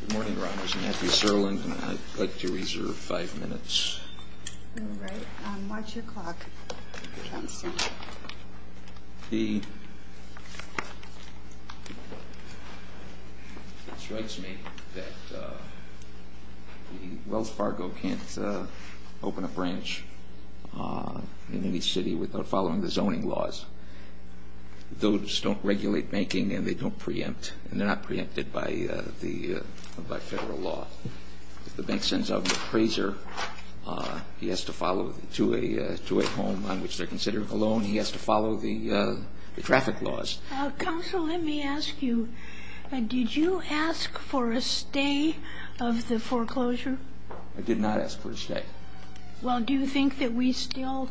Good morning, Your Honors. I'm Matthew Serland, and I'd like to reserve five minutes. All right. What's your clock? It strikes me that Wells Fargo can't open a branch in any city without following the zoning laws. Those don't regulate banking, and they don't preempt, and they're not preempted by federal law. If the bank sends out an appraiser, he has to follow, to a home on which they're considering a loan, he has to follow the traffic laws. Counsel, let me ask you, did you ask for a stay of the foreclosure? I did not ask for a stay. Well, do you think that we still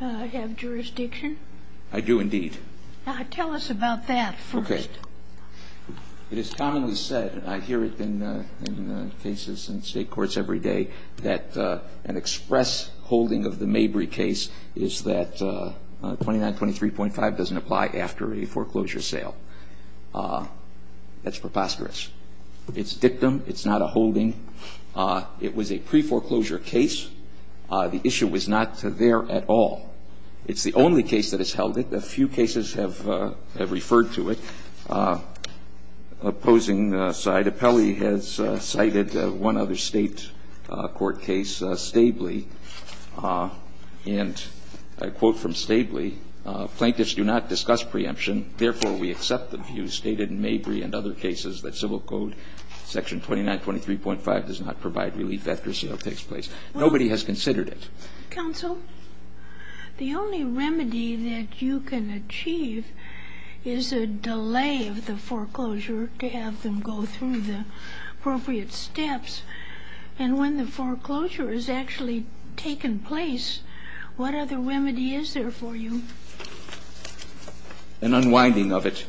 have jurisdiction? I do, indeed. Tell us about that first. Okay. It is commonly said, and I hear it in cases in state courts every day, that an express holding of the Mabry case is that 2923.5 doesn't apply after a foreclosure sale. That's preposterous. It's dictum. It's not a holding. It was a preforeclosure case. The issue was not there at all. It's the only case that has held it. A few cases have referred to it. Opposing side, Apelli has cited one other state court case, Stabley. And I quote from Stabley, The only remedy that you can achieve is a delay of the foreclosure to have them go through the appropriate steps. And when the foreclosure has actually taken place, what other remedy is there for you? An unwinding of it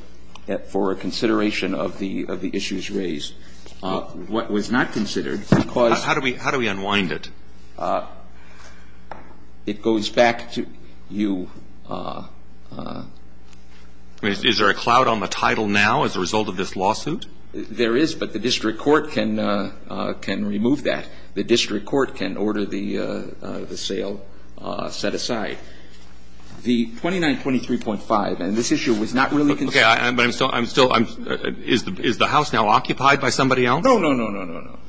for consideration of the issues raised. What was not considered, because How do we unwind it? It goes back to you. Is there a cloud on the title now as a result of this lawsuit? There is, but the district court can remove that. The district court can order the sale set aside. The 2923.5, and this issue was not really considered. Okay. But I'm still, I'm still, is the House now occupied by somebody else? No, no, no, no, no, no.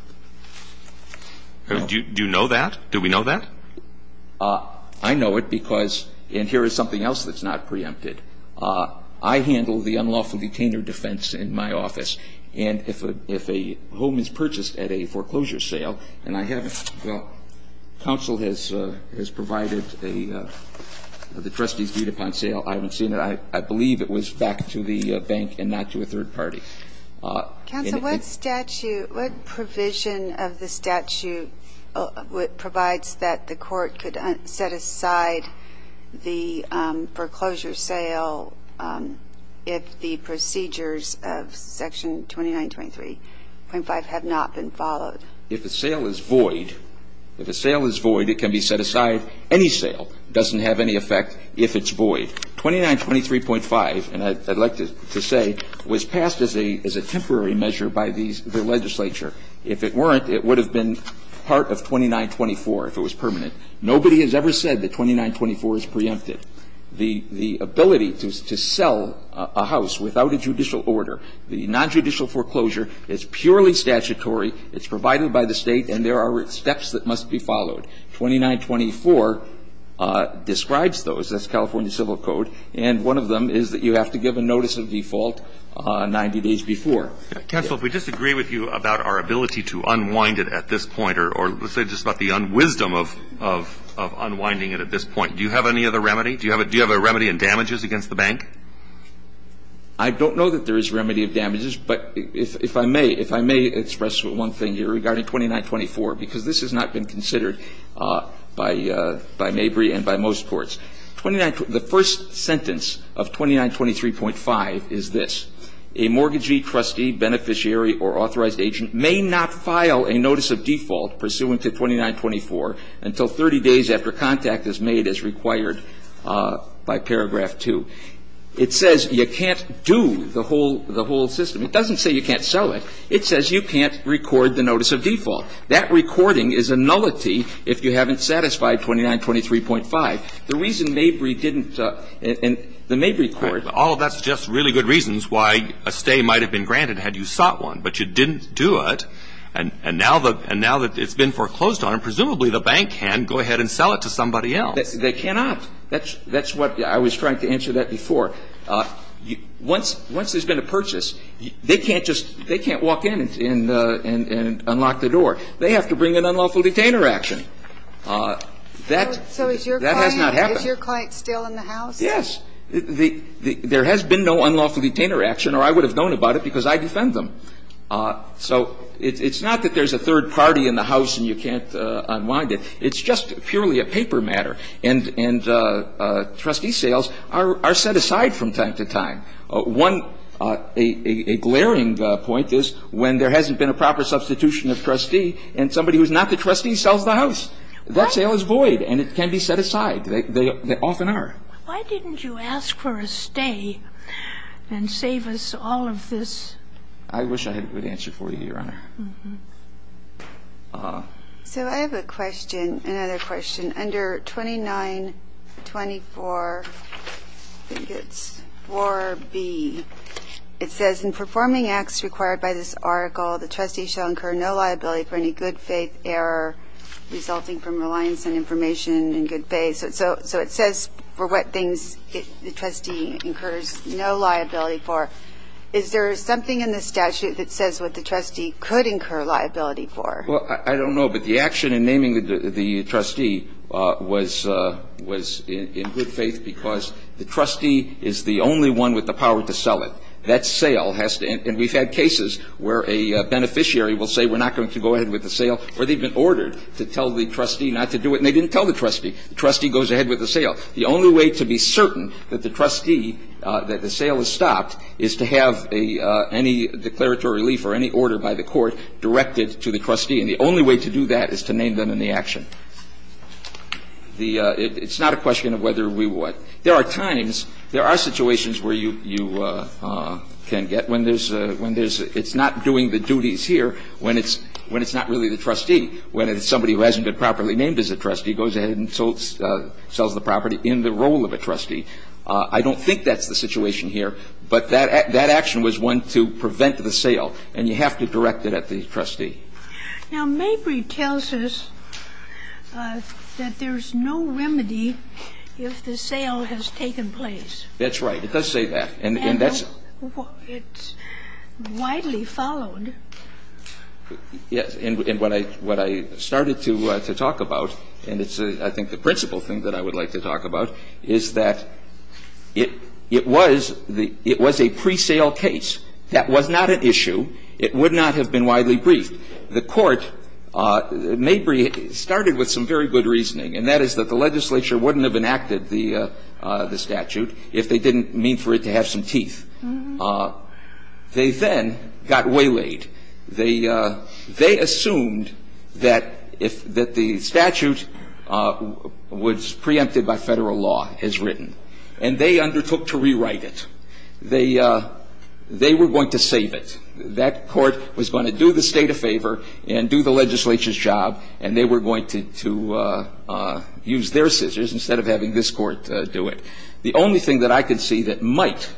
Do you know that? Do we know that? I know it because, and here is something else that's not preempted. I handle the unlawful detainer defense in my office. And if a home is purchased at a foreclosure sale, and I haven't, counsel has provided the trustee's view upon sale. I haven't seen it. I believe it was back to the bank and not to a third party. Counsel, what statute, what provision of the statute provides that the court could set aside the foreclosure sale if the procedures of Section 2923.5 have not been followed? If a sale is void, if a sale is void, it can be set aside. Any sale doesn't have any effect if it's void. 2923.5, and I'd like to say, was passed as a temporary measure by the legislature. If it weren't, it would have been part of 2924 if it was permanent. Nobody has ever said that 2924 is preempted. The ability to sell a house without a judicial order, the nonjudicial foreclosure, it's purely statutory, it's provided by the State, and there are steps that must be followed. 2924 describes those. That's California Civil Code. And one of them is that you have to give a notice of default 90 days before. Counsel, if we disagree with you about our ability to unwind it at this point, or let's say just about the wisdom of unwinding it at this point, do you have any other remedy? Do you have a remedy in damages against the bank? I don't know that there is remedy of damages, but if I may, if I may express one thing here regarding 2924, because this has not been considered by Mabry and by most courts. The first sentence of 2923.5 is this. A mortgagee, trustee, beneficiary, or authorized agent may not file a notice of default pursuant to 2924 until 30 days after contact is made as required by paragraph 2. It says you can't do the whole system. It doesn't say you can't sell it. It says you can't record the notice of default. That recording is a nullity if you haven't satisfied 2923.5. The reason Mabry didn't and the Mabry court. All of that suggests really good reasons why a stay might have been granted had you sought one, but you didn't do it. And now that it's been foreclosed on, presumably the bank can go ahead and sell it to somebody else. They cannot. That's what I was trying to answer that before. Once there's been a purchase, they can't just walk in and unlock the door. They have to bring an unlawful detainer action. That has not happened. So is your client still in the house? Yes. There has been no unlawful detainer action or I would have known about it because I defend them. So it's not that there's a third party in the house and you can't unwind it. It's just purely a paper matter. And trustee sales are set aside from time to time. One glaring point is when there hasn't been a proper substitution of trustee and somebody who's not the trustee sells the house. That sale is void and it can be set aside. They often are. Why didn't you ask for a stay and save us all of this? I wish I would answer for you, Your Honor. So I have a question, another question. Under 2924, I think it's 4B. It says in performing acts required by this article, the trustee shall incur no liability for any good faith error resulting from reliance on information in good faith. So it says for what things the trustee incurs no liability for. Is there something in the statute that says what the trustee could incur liability for? Well, I don't know. But the action in naming the trustee was in good faith because the trustee is the only one with the power to sell it. That sale has to end. And we've had cases where a beneficiary will say we're not going to go ahead with the sale or they've been ordered to tell the trustee not to do it and they didn't tell the trustee. The trustee goes ahead with the sale. The only way to be certain that the trustee, that the sale is stopped, is to have any declaratory relief or any order by the court directed to the trustee. And the only way to do that is to name them in the action. The – it's not a question of whether we would. There are times, there are situations where you can get when there's – when there's – it's not doing the duties here when it's not really the trustee, when it's And so when the trustee is named and properly named as a trustee, goes ahead and sells the property in the role of a trustee, I don't think that's the situation here. But that action was one to prevent the sale. And you have to direct it at the trustee. Now, Mabry tells us that there's no remedy if the sale has taken place. That's right. It does say that. And that's It's widely followed. Yes. And what I started to talk about, and it's I think the principal thing that I would like to talk about, is that it was the – it was a pre-sale case. That was not an issue. It would not have been widely briefed. The court, Mabry, started with some very good reasoning, and that is that the legislature wouldn't have enacted the statute if they didn't mean for it to have some teeth. They then got waylaid. They assumed that the statute was preempted by federal law, as written. And they undertook to rewrite it. They were going to save it. That court was going to do the state a favor and do the legislature's job, and they were going to use their scissors instead of having this Court do it. The only thing that I could see that might,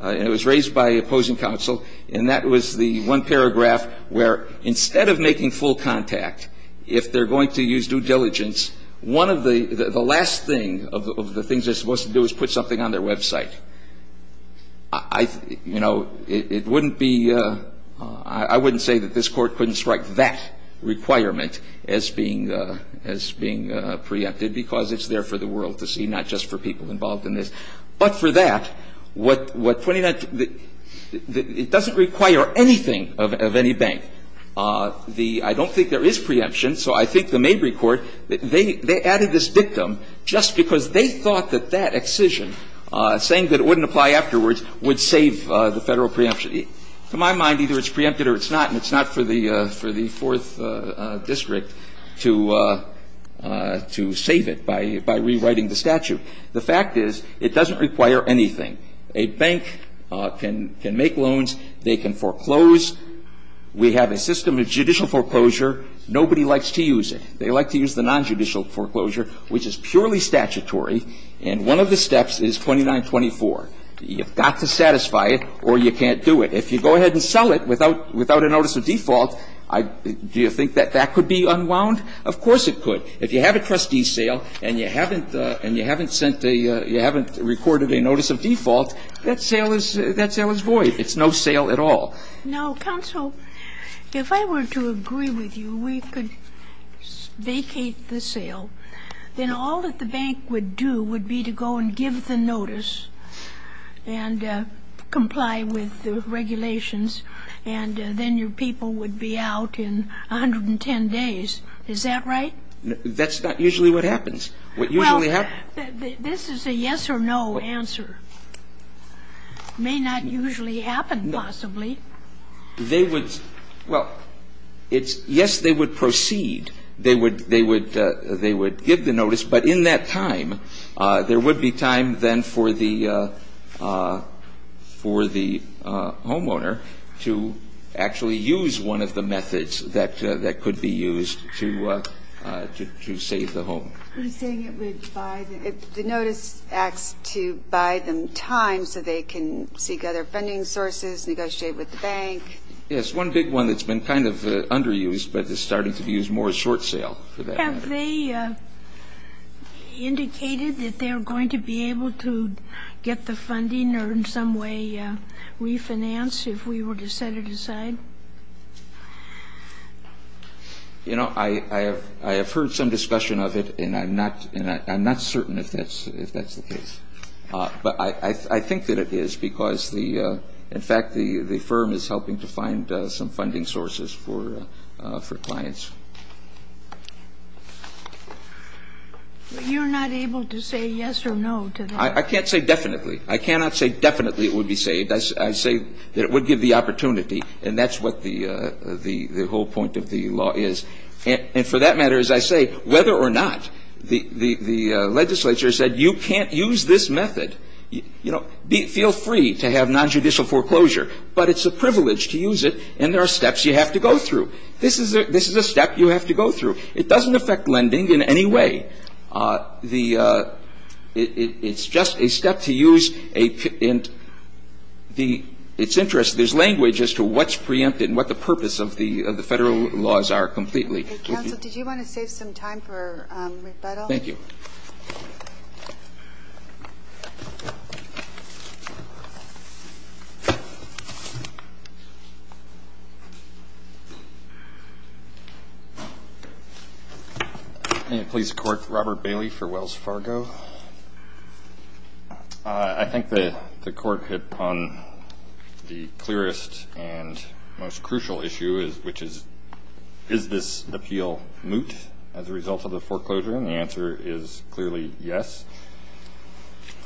and it was raised by opposing counsel, and that was the one paragraph where instead of making full contact, if they're going to use due diligence, one of the – the last thing of the things they're supposed to do is put something on their website. I – you know, it wouldn't be – I wouldn't say that this Court couldn't strike that requirement as being – as being preempted, because it's there for the world to see, not just for people involved in this. But for that, what 29 – it doesn't require anything of any bank. The – I don't think there is preemption, so I think the Mabry court, they added this dictum just because they thought that that excision, saying that it wouldn't apply afterwards, would save the federal preemption. To my mind, either it's preempted or it's not, and it's not for the – for the Fourth District to save it by rewriting the statute. The fact is, it doesn't require anything. A bank can make loans. They can foreclose. We have a system of judicial foreclosure. Nobody likes to use it. They like to use the nonjudicial foreclosure, which is purely statutory, and one of the steps is 2924. You've got to satisfy it or you can't do it. If you go ahead and sell it without – without a notice of default, I – do you think that that could be unwound? Of course it could. If you have a trustee sale and you haven't – and you haven't sent a – you haven't recorded a notice of default, that sale is – that sale is void. It's no sale at all. Now, counsel, if I were to agree with you, we could vacate the sale. Then all that the bank would do would be to go and give the notice and comply with the regulations, and then your people would be out in 110 days. Is that right? That's not usually what happens. What usually happens – Well, this is a yes or no answer. It may not usually happen, possibly. They would – well, it's – yes, they would proceed. They would – they would – they would give the notice, but in that time, there would be time, then, for the – for the homeowner to actually use one of the methods that could be used to save the home. Are you saying it would buy – the notice acts to buy them time so they can seek other funding sources, negotiate with the bank? Yes. One big one that's been kind of underused but is starting to be used more as short sale for that. Have they indicated that they're going to be able to get the funding or in some way refinance if we were to set it aside? You know, I have heard some discussion of it, and I'm not – and I'm not certain if that's the case. But I think that it is because the – in fact, the firm is helping to find some funding sources for clients. But you're not able to say yes or no to that? I can't say definitely. I cannot say definitely it would be saved. I say that it would give the opportunity, and that's what the whole point of the law is. And for that matter, as I say, whether or not the legislature said you can't use this method, you know, feel free to have nonjudicial foreclosure. But it's a privilege to use it, and there are steps you have to go through. This is a step you have to go through. It doesn't affect lending in any way. The – it's just a step to use a – and the – it's interesting. There's language as to what's preempted and what the purpose of the Federal laws are completely. Counsel, did you want to save some time for rebuttal? Thank you. Thank you. Police Court, Robert Bailey for Wells Fargo. I think the court hit on the clearest and most crucial issue, which is, is this appeal moot as a result of the foreclosure? And the answer is clearly yes.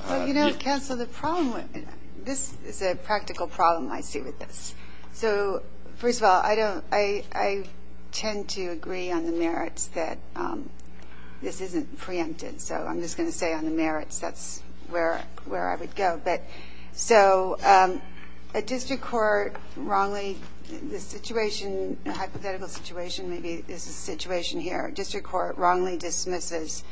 But, you know, Counsel, the problem – this is a practical problem I see with this. So, first of all, I don't – I tend to agree on the merits that this isn't preempted. So I'm just going to say on the merits that's where I would go. But so a district court wrongly – the situation, the hypothetical situation maybe is the situation here. A district court wrongly dismisses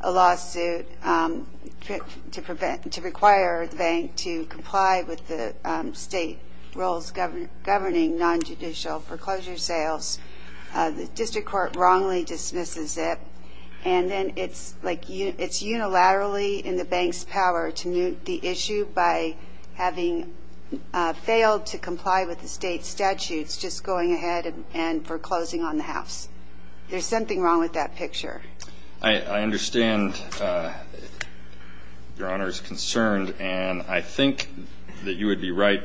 a lawsuit to prevent – to require the bank to comply with the state rules governing non-judicial foreclosure sales. The district court wrongly dismisses it. And then it's like – it's unilaterally in the bank's power to moot the issue by having failed to comply with the state statutes, just going ahead and foreclosing on the house. There's something wrong with that picture. I understand Your Honor's concern. And I think that you would be right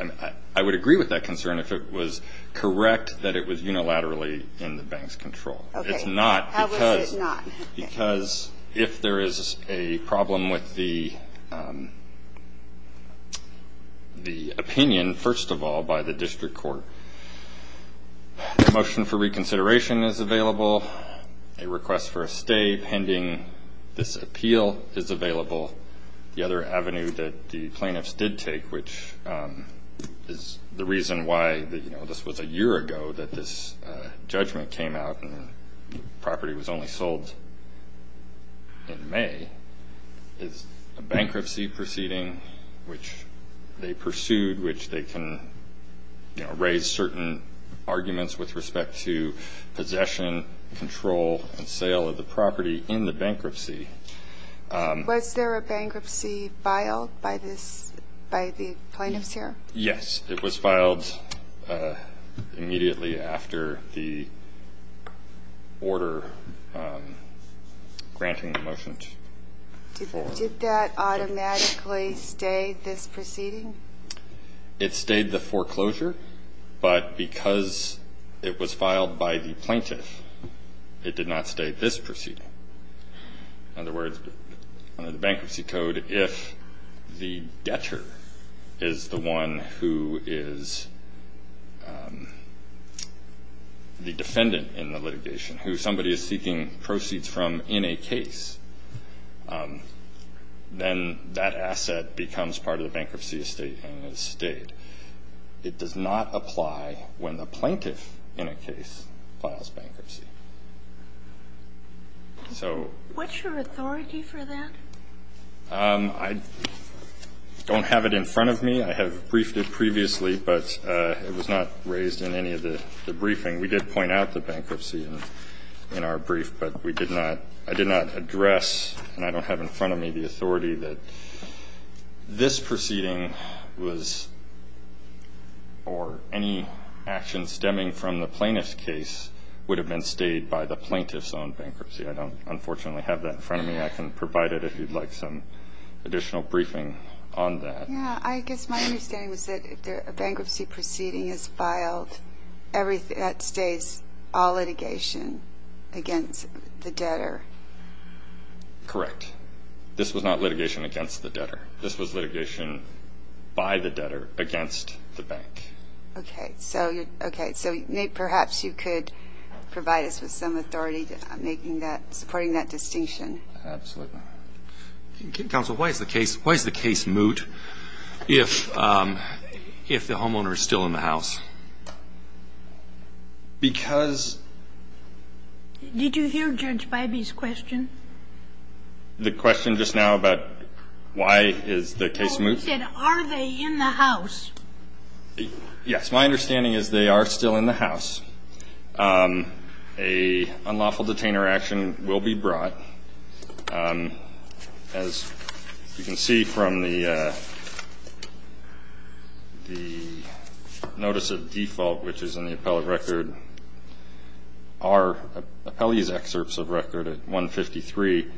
– I would agree with that concern if it was correct that it was unilaterally in the bank's control. Okay. It's not because – How is it not? Because if there is a problem with the opinion, first of all, by the district court. A motion for reconsideration is available. A request for a stay pending this appeal is available. The other avenue that the plaintiffs did take, which is the reason why this was a year ago that this judgment came out and the property was only sold in May, is a certain arguments with respect to possession, control, and sale of the property in the bankruptcy. Was there a bankruptcy filed by the plaintiffs here? Yes. It was filed immediately after the order granting the motion. Did that automatically stay this proceeding? It stayed the foreclosure, but because it was filed by the plaintiff, it did not stay this proceeding. In other words, under the bankruptcy code, if the debtor is the one who is the defendant in the litigation, who somebody is seeking proceeds from in a case, then that asset becomes part of the bankruptcy estate and is stayed. It does not apply when the plaintiff in a case files bankruptcy. What's your authority for that? I don't have it in front of me. I have briefed it previously, but it was not raised in any of the briefing. We did point out the bankruptcy in our brief, but I did not address and I don't have in front of me the authority that this proceeding was or any action stemming from the plaintiff's case would have been stayed by the plaintiff's own bankruptcy. I don't, unfortunately, have that in front of me. I can provide it if you'd like some additional briefing on that. Yes. I guess my understanding was that if a bankruptcy proceeding is filed, that stays all litigation against the debtor. Correct. This was not litigation against the debtor. This was litigation by the debtor against the bank. Okay. So, Nate, perhaps you could provide us with some authority making that, supporting that distinction. Absolutely. Counsel, why is the case moot if the homeowner is still in the house? Because... Did you hear Judge Bybee's question? The question just now about why is the case moot? He said, are they in the house? Yes. My understanding is they are still in the house. A unlawful detainer action will be brought. As you can see from the notice of default, which is in the appellate record, our appellee's excerpts of record at 153,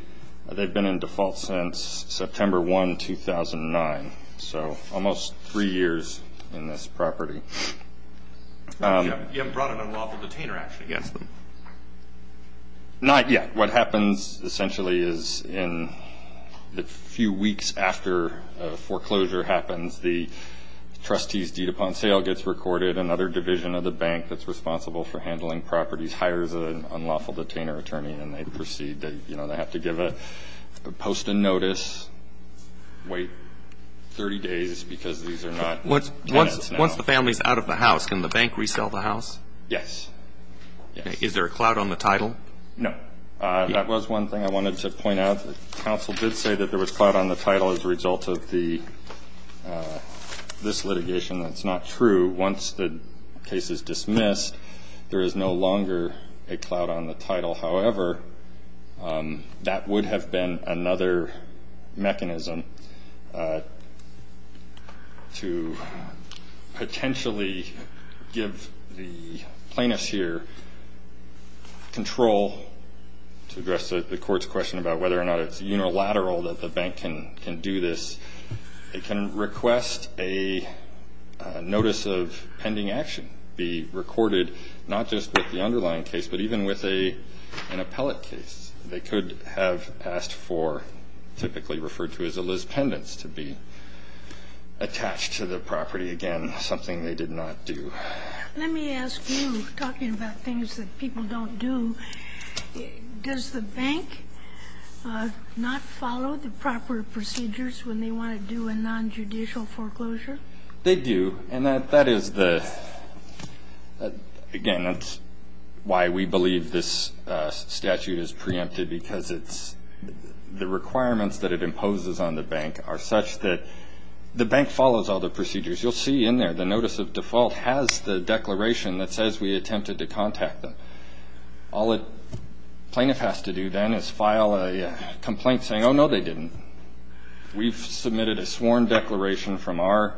they've been in default since September 1, 2009, so almost three years in this property. You haven't brought an unlawful detainer action against them? Not yet. What happens, essentially, is in the few weeks after foreclosure happens, the trustee's deed upon sale gets recorded. Another division of the bank that's responsible for handling properties hires an unlawful detainer attorney, and they proceed. They have to post a notice, wait 30 days because these are not tenants now. Once the family is out of the house, can the bank resell the house? Yes. Is there a clout on the title? No. That was one thing I wanted to point out. The counsel did say that there was clout on the title as a result of this litigation. That's not true. Once the case is dismissed, there is no longer a clout on the title. However, that would have been another mechanism to potentially give the plaintiffs here control to address the court's question about whether or not it's unilateral that the bank can do this. It can request a notice of pending action be recorded, not just with the underlying case, but even with an appellate case. They could have asked for typically referred to as a lis pendens to be attached to the property, again, something they did not do. Let me ask you, talking about things that people don't do, does the bank not follow the proper procedures when they want to do a nonjudicial foreclosure? They do. And that is the, again, that's why we believe this statute is preempted, because it's the requirements that it imposes on the bank are such that the bank follows all the procedures. You'll see in there the notice of default has the declaration that says we attempted to contact them. All a plaintiff has to do then is file a complaint saying, oh, no, they didn't. We've submitted a sworn declaration from our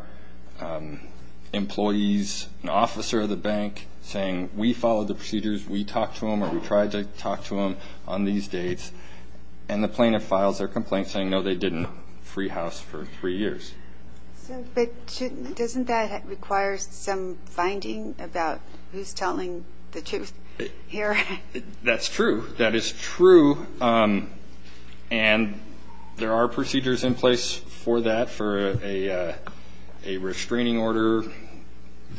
employees, an officer of the bank, saying we followed the procedures, we talked to them, or we tried to talk to them on these dates. And the plaintiff files their complaint saying, no, they didn't free house for three years. But doesn't that require some finding about who's telling the truth here? That's true. That is true. And there are procedures in place for that, for a restraining order,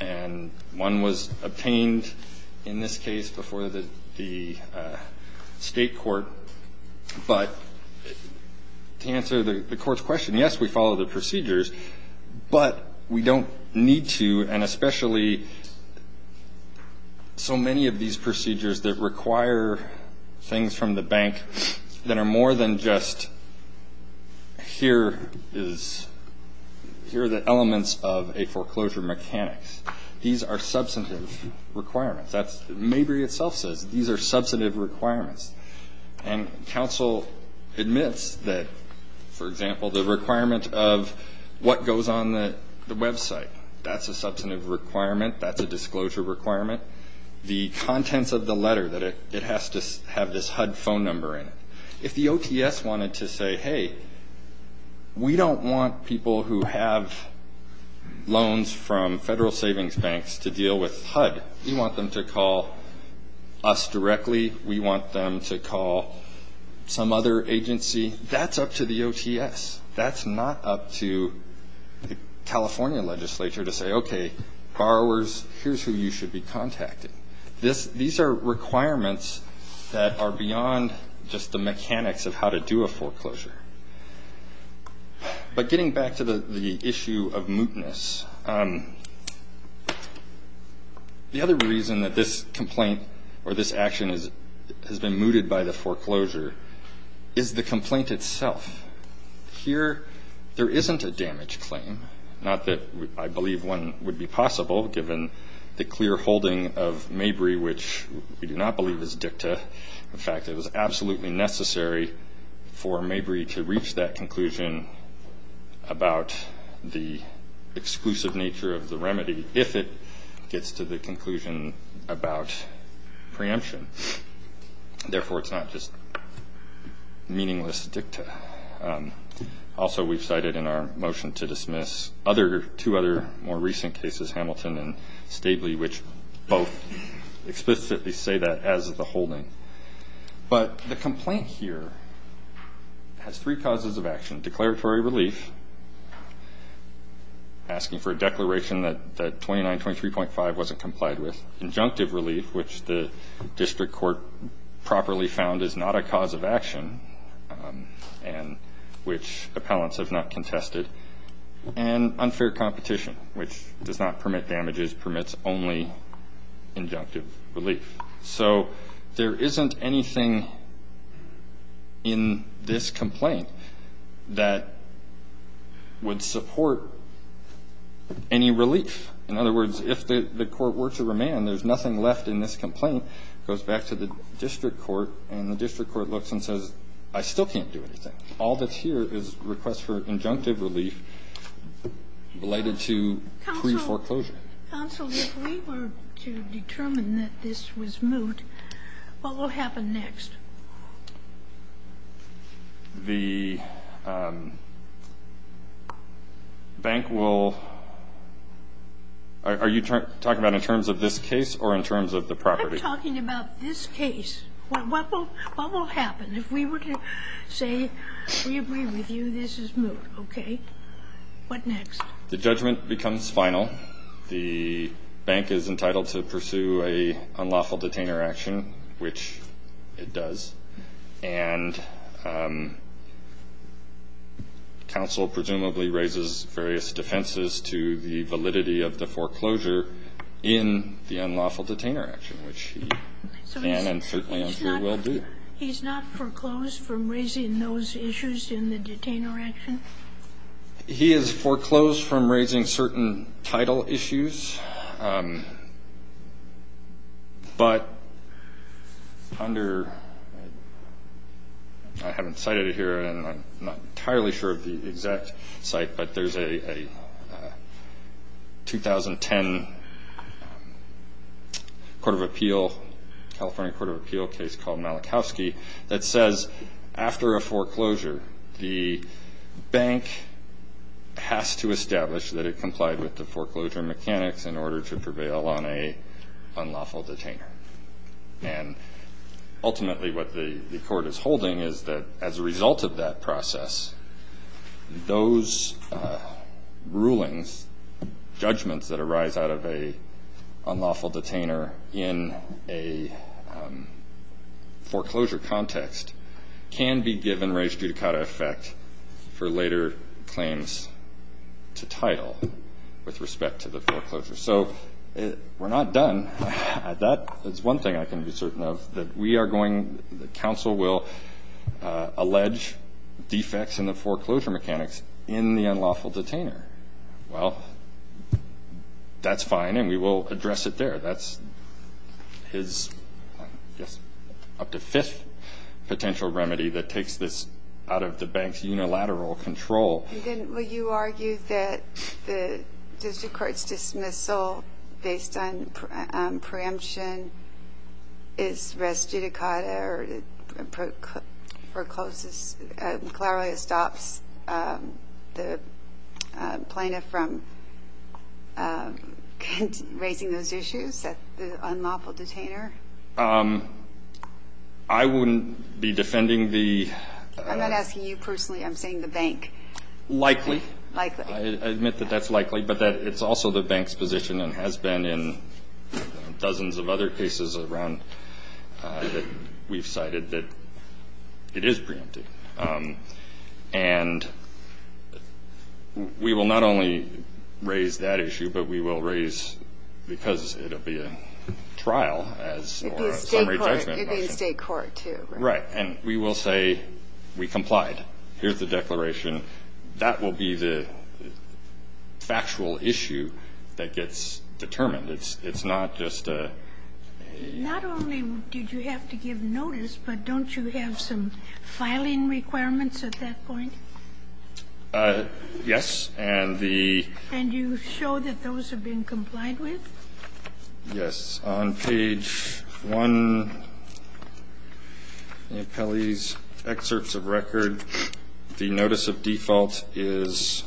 and one was obtained in this case before the state court. But to answer the court's question, yes, we follow the procedures, but we don't need to, and especially so many of these procedures that require things from the bank that are more than just, here are the elements of a foreclosure mechanics. These are substantive requirements. Mabry itself says these are substantive requirements. And counsel admits that, for example, the requirement of what goes on the website, that's a substantive requirement, that's a disclosure requirement. The contents of the letter, that it has to have this HUD phone number in it. If the OTS wanted to say, hey, we don't want people who have loans from federal savings banks to deal with HUD. We want them to call us directly. We want them to call some other agency. That's up to the OTS. That's not up to the California legislature to say, okay, borrowers, here's who you should be contacting. These are requirements that are beyond just the mechanics of how to do a foreclosure. But getting back to the issue of mootness, the other reason that this complaint or this action has been mooted by the foreclosure is the complaint itself. Here there isn't a damage claim, not that I believe one would be possible, given the clear holding of Mabry, which we do not believe is dicta. In fact, it was absolutely necessary for Mabry to reach that conclusion about the exclusive nature of the remedy, if it gets to the conclusion about preemption. Therefore, it's not just meaningless dicta. Also, we've cited in our motion to dismiss two other more recent cases, Hamilton and Stabley, which both explicitly say that as the holding. And declaratory relief, asking for a declaration that 2923.5 wasn't complied with. Injunctive relief, which the district court properly found is not a cause of action and which appellants have not contested. And unfair competition, which does not permit damages, permits only injunctive relief. So there isn't anything in this complaint that would support any relief. In other words, if the court were to remand, there's nothing left in this complaint, goes back to the district court, and the district court looks and says, I still can't do anything. All that's here is requests for injunctive relief related to pre-foreclosure. If you are to determine that this was moot, what will happen next? The bank will – are you talking about in terms of this case or in terms of the property? We're talking about this case. What will happen if we were to say we agree with you this is moot, okay? What next? The judgment becomes final. The bank is entitled to pursue an unlawful detainer action, which it does, and counsel presumably raises various defenses to the validity of the foreclosure in the unlawful detainer action, which he can and certainly will do. He's not foreclosed from raising those issues in the detainer action? He is foreclosed from raising certain title issues. But under – I haven't cited it here, and I'm not entirely sure of the exact site, but there's a 2010 Court of Appeal, California Court of Appeal case called Malachowski, that says after a foreclosure the bank has to establish that it complied with the foreclosure mechanics in order to prevail on an unlawful detainer. And ultimately what the court is holding is that as a result of that process, those rulings, judgments that arise out of an unlawful detainer in a foreclosure context can be given res judicata effect for later claims to title with respect to the foreclosure. So we're not done. And that is one thing I can be certain of, that we are going – that counsel will allege defects in the foreclosure mechanics in the unlawful detainer. Well, that's fine, and we will address it there. That's his, I guess, up to fifth potential remedy that takes this out of the bank's unilateral control. And then will you argue that the district court's dismissal based on preemption is res judicata or forecloses – clearly it stops the plaintiff from raising those issues at the unlawful detainer? I wouldn't be defending the – I'm not asking you personally. I'm saying the bank. Likely. Likely. I admit that that's likely, but that it's also the bank's position and has been in dozens of other cases around that we've cited that it is preemptive. And we will not only raise that issue, but we will raise – because it'll be a trial as – It'd be a state court. Or a summary judgment. It'd be a state court, too. Right. And we will say we complied. Here's the declaration. That will be the factual issue that gets determined. It's not just a – Not only did you have to give notice, but don't you have some filing requirements at that point? Yes. And the – And you show that those have been complied with? Yes. It's on page 1 of the appellee's excerpts of record. The notice of default is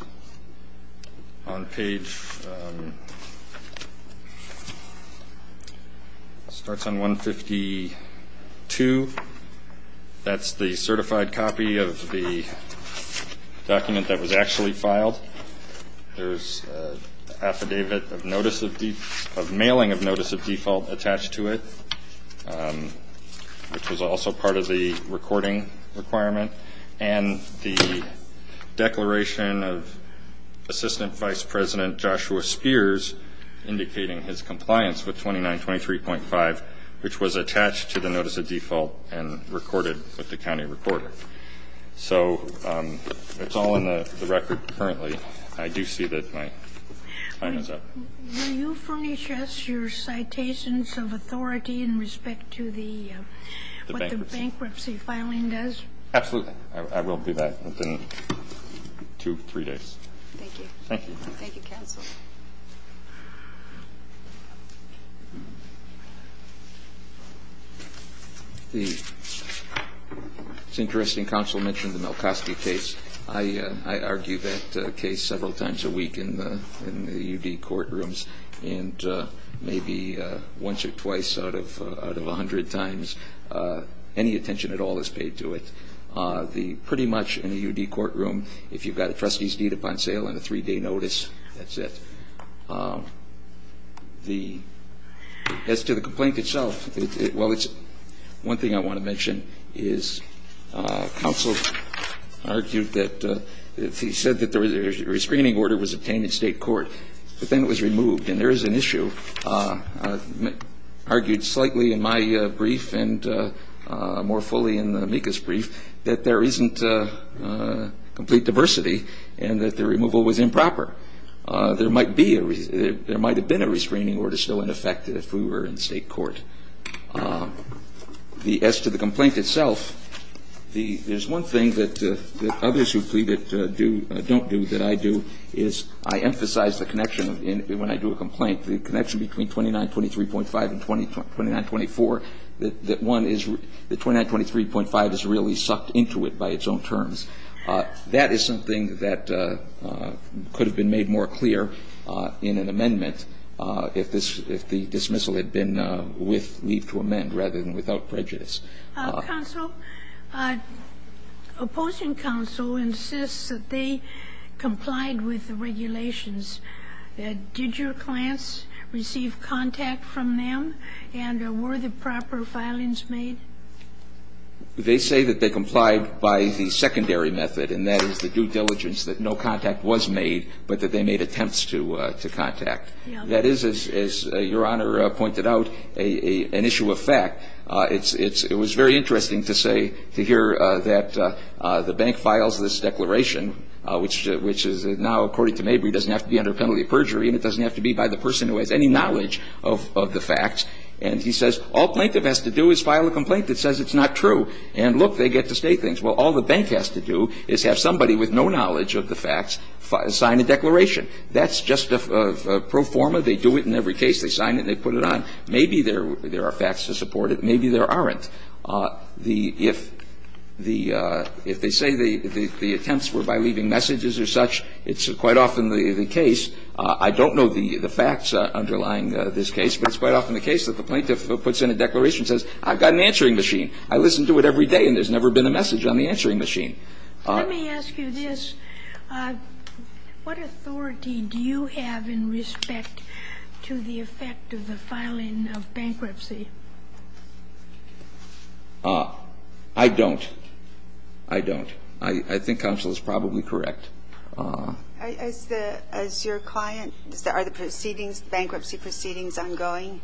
on page – starts on 152. That's the certified copy of the document that was actually filed. There's an affidavit of notice of – of mailing of notice of default attached to it, which was also part of the recording requirement, and the declaration of Assistant Vice President Joshua Spears indicating his compliance with 2923.5, which was attached to the notice of default and recorded with the county recorder. So it's all in the record currently. I do see that my time is up. Will you furnish us your citations of authority in respect to the – The bankruptcy. What the bankruptcy filing does? Absolutely. I will do that within two, three days. Thank you. Thank you. Thank you, counsel. It's interesting. Counsel mentioned the Malkowski case. I argue that case several times a week in the UD courtrooms, and maybe once or twice out of 100 times any attention at all is paid to it. Pretty much in a UD courtroom, if you've got a trustee's deed upon sale and a three-day notice, that's it. As to the complaint itself, well, it's – one thing I want to mention is counsel argued that – he said that the restraining order was obtained in state court, but then it was removed. And there is an issue, argued slightly in my brief and more fully in Mika's brief, that there isn't complete diversity and that the removal was improper. There might be a – there might have been a restraining order still in effect if we were in state court. As to the complaint itself, there's one thing that others who plead it don't do that I do, is I emphasize the connection when I do a complaint, the connection between 2923.5 and 2924, that one is – that 2923.5 is really sucked into it by its own terms. the complaint to the appeals and to negotiation of the cases. That is something that could have been made more clear in an amendment if this – if the dismissal had been with leave to amend rather than without prejudice. Counsel, opposing counsel insists that they complied with the regulations. Did your clients receive contact from them, and were the proper filings made? They say that they complied by the secondary method, and that is the due diligence that no contact was made, but that they made attempts to contact. That is, as Your Honor pointed out, an issue of fact. It's – it was very interesting to say – to hear that the bank files this declaration, which is now, according to Mabry, doesn't have to be under penalty of perjury, and it doesn't have to be by the person who has any knowledge of the facts. And he says, all plaintiff has to do is file a complaint that says it's not true, and look, they get to state things. Well, all the bank has to do is have somebody with no knowledge of the facts sign a declaration. That's just a pro forma. They do it in every case. They sign it and they put it on. Maybe there are facts to support it. Maybe there aren't. The – if the – if they say the attempts were by leaving messages or such, it's quite often the case – I don't know the facts underlying this case, but it's quite often the case that the plaintiff puts in a declaration and says, I've got an answering machine. I listen to it every day and there's never been a message on the answering machine. Let me ask you this. What authority do you have in respect to the effect of the filing of bankruptcy? I don't. I don't. I think counsel is probably correct. As the – as your client, are the proceedings, the bankruptcy proceedings ongoing?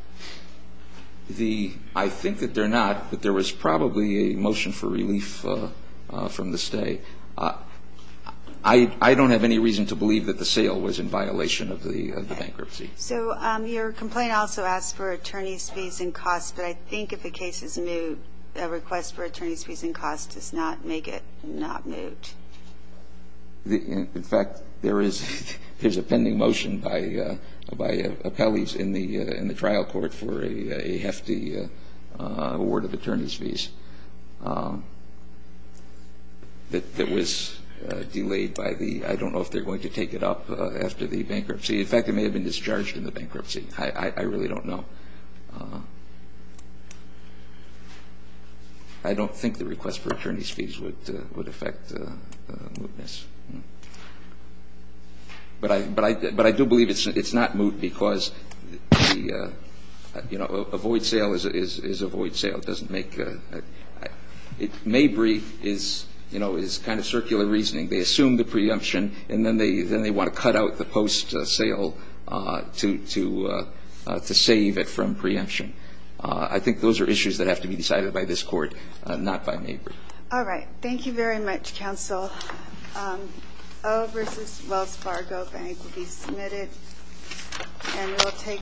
The – I think that they're not, but there was probably a motion for relief from the stay. I don't have any reason to believe that the sale was in violation of the bankruptcy. So your complaint also asks for attorney's fees and costs, but I think if the case is moved, a request for attorney's fees and costs does not make it not moved. In fact, there is a pending motion by appellees in the trial that says that the trial court for a hefty award of attorney's fees that was delayed by the – I don't know if they're going to take it up after the bankruptcy. In fact, it may have been discharged in the bankruptcy. I really don't know. I don't think the request for attorney's fees would affect the mootness. But I do believe it's not moot because the, you know, a void sale is a void sale. It doesn't make a – Mabry is, you know, is kind of circular reasoning. They assume the preemption and then they want to cut out the post sale to save it from preemption. I think those are issues that have to be decided by this Court, not by Mabry. All right. Thank you very much, counsel. O versus Wells Fargo Bank will be submitted and we'll take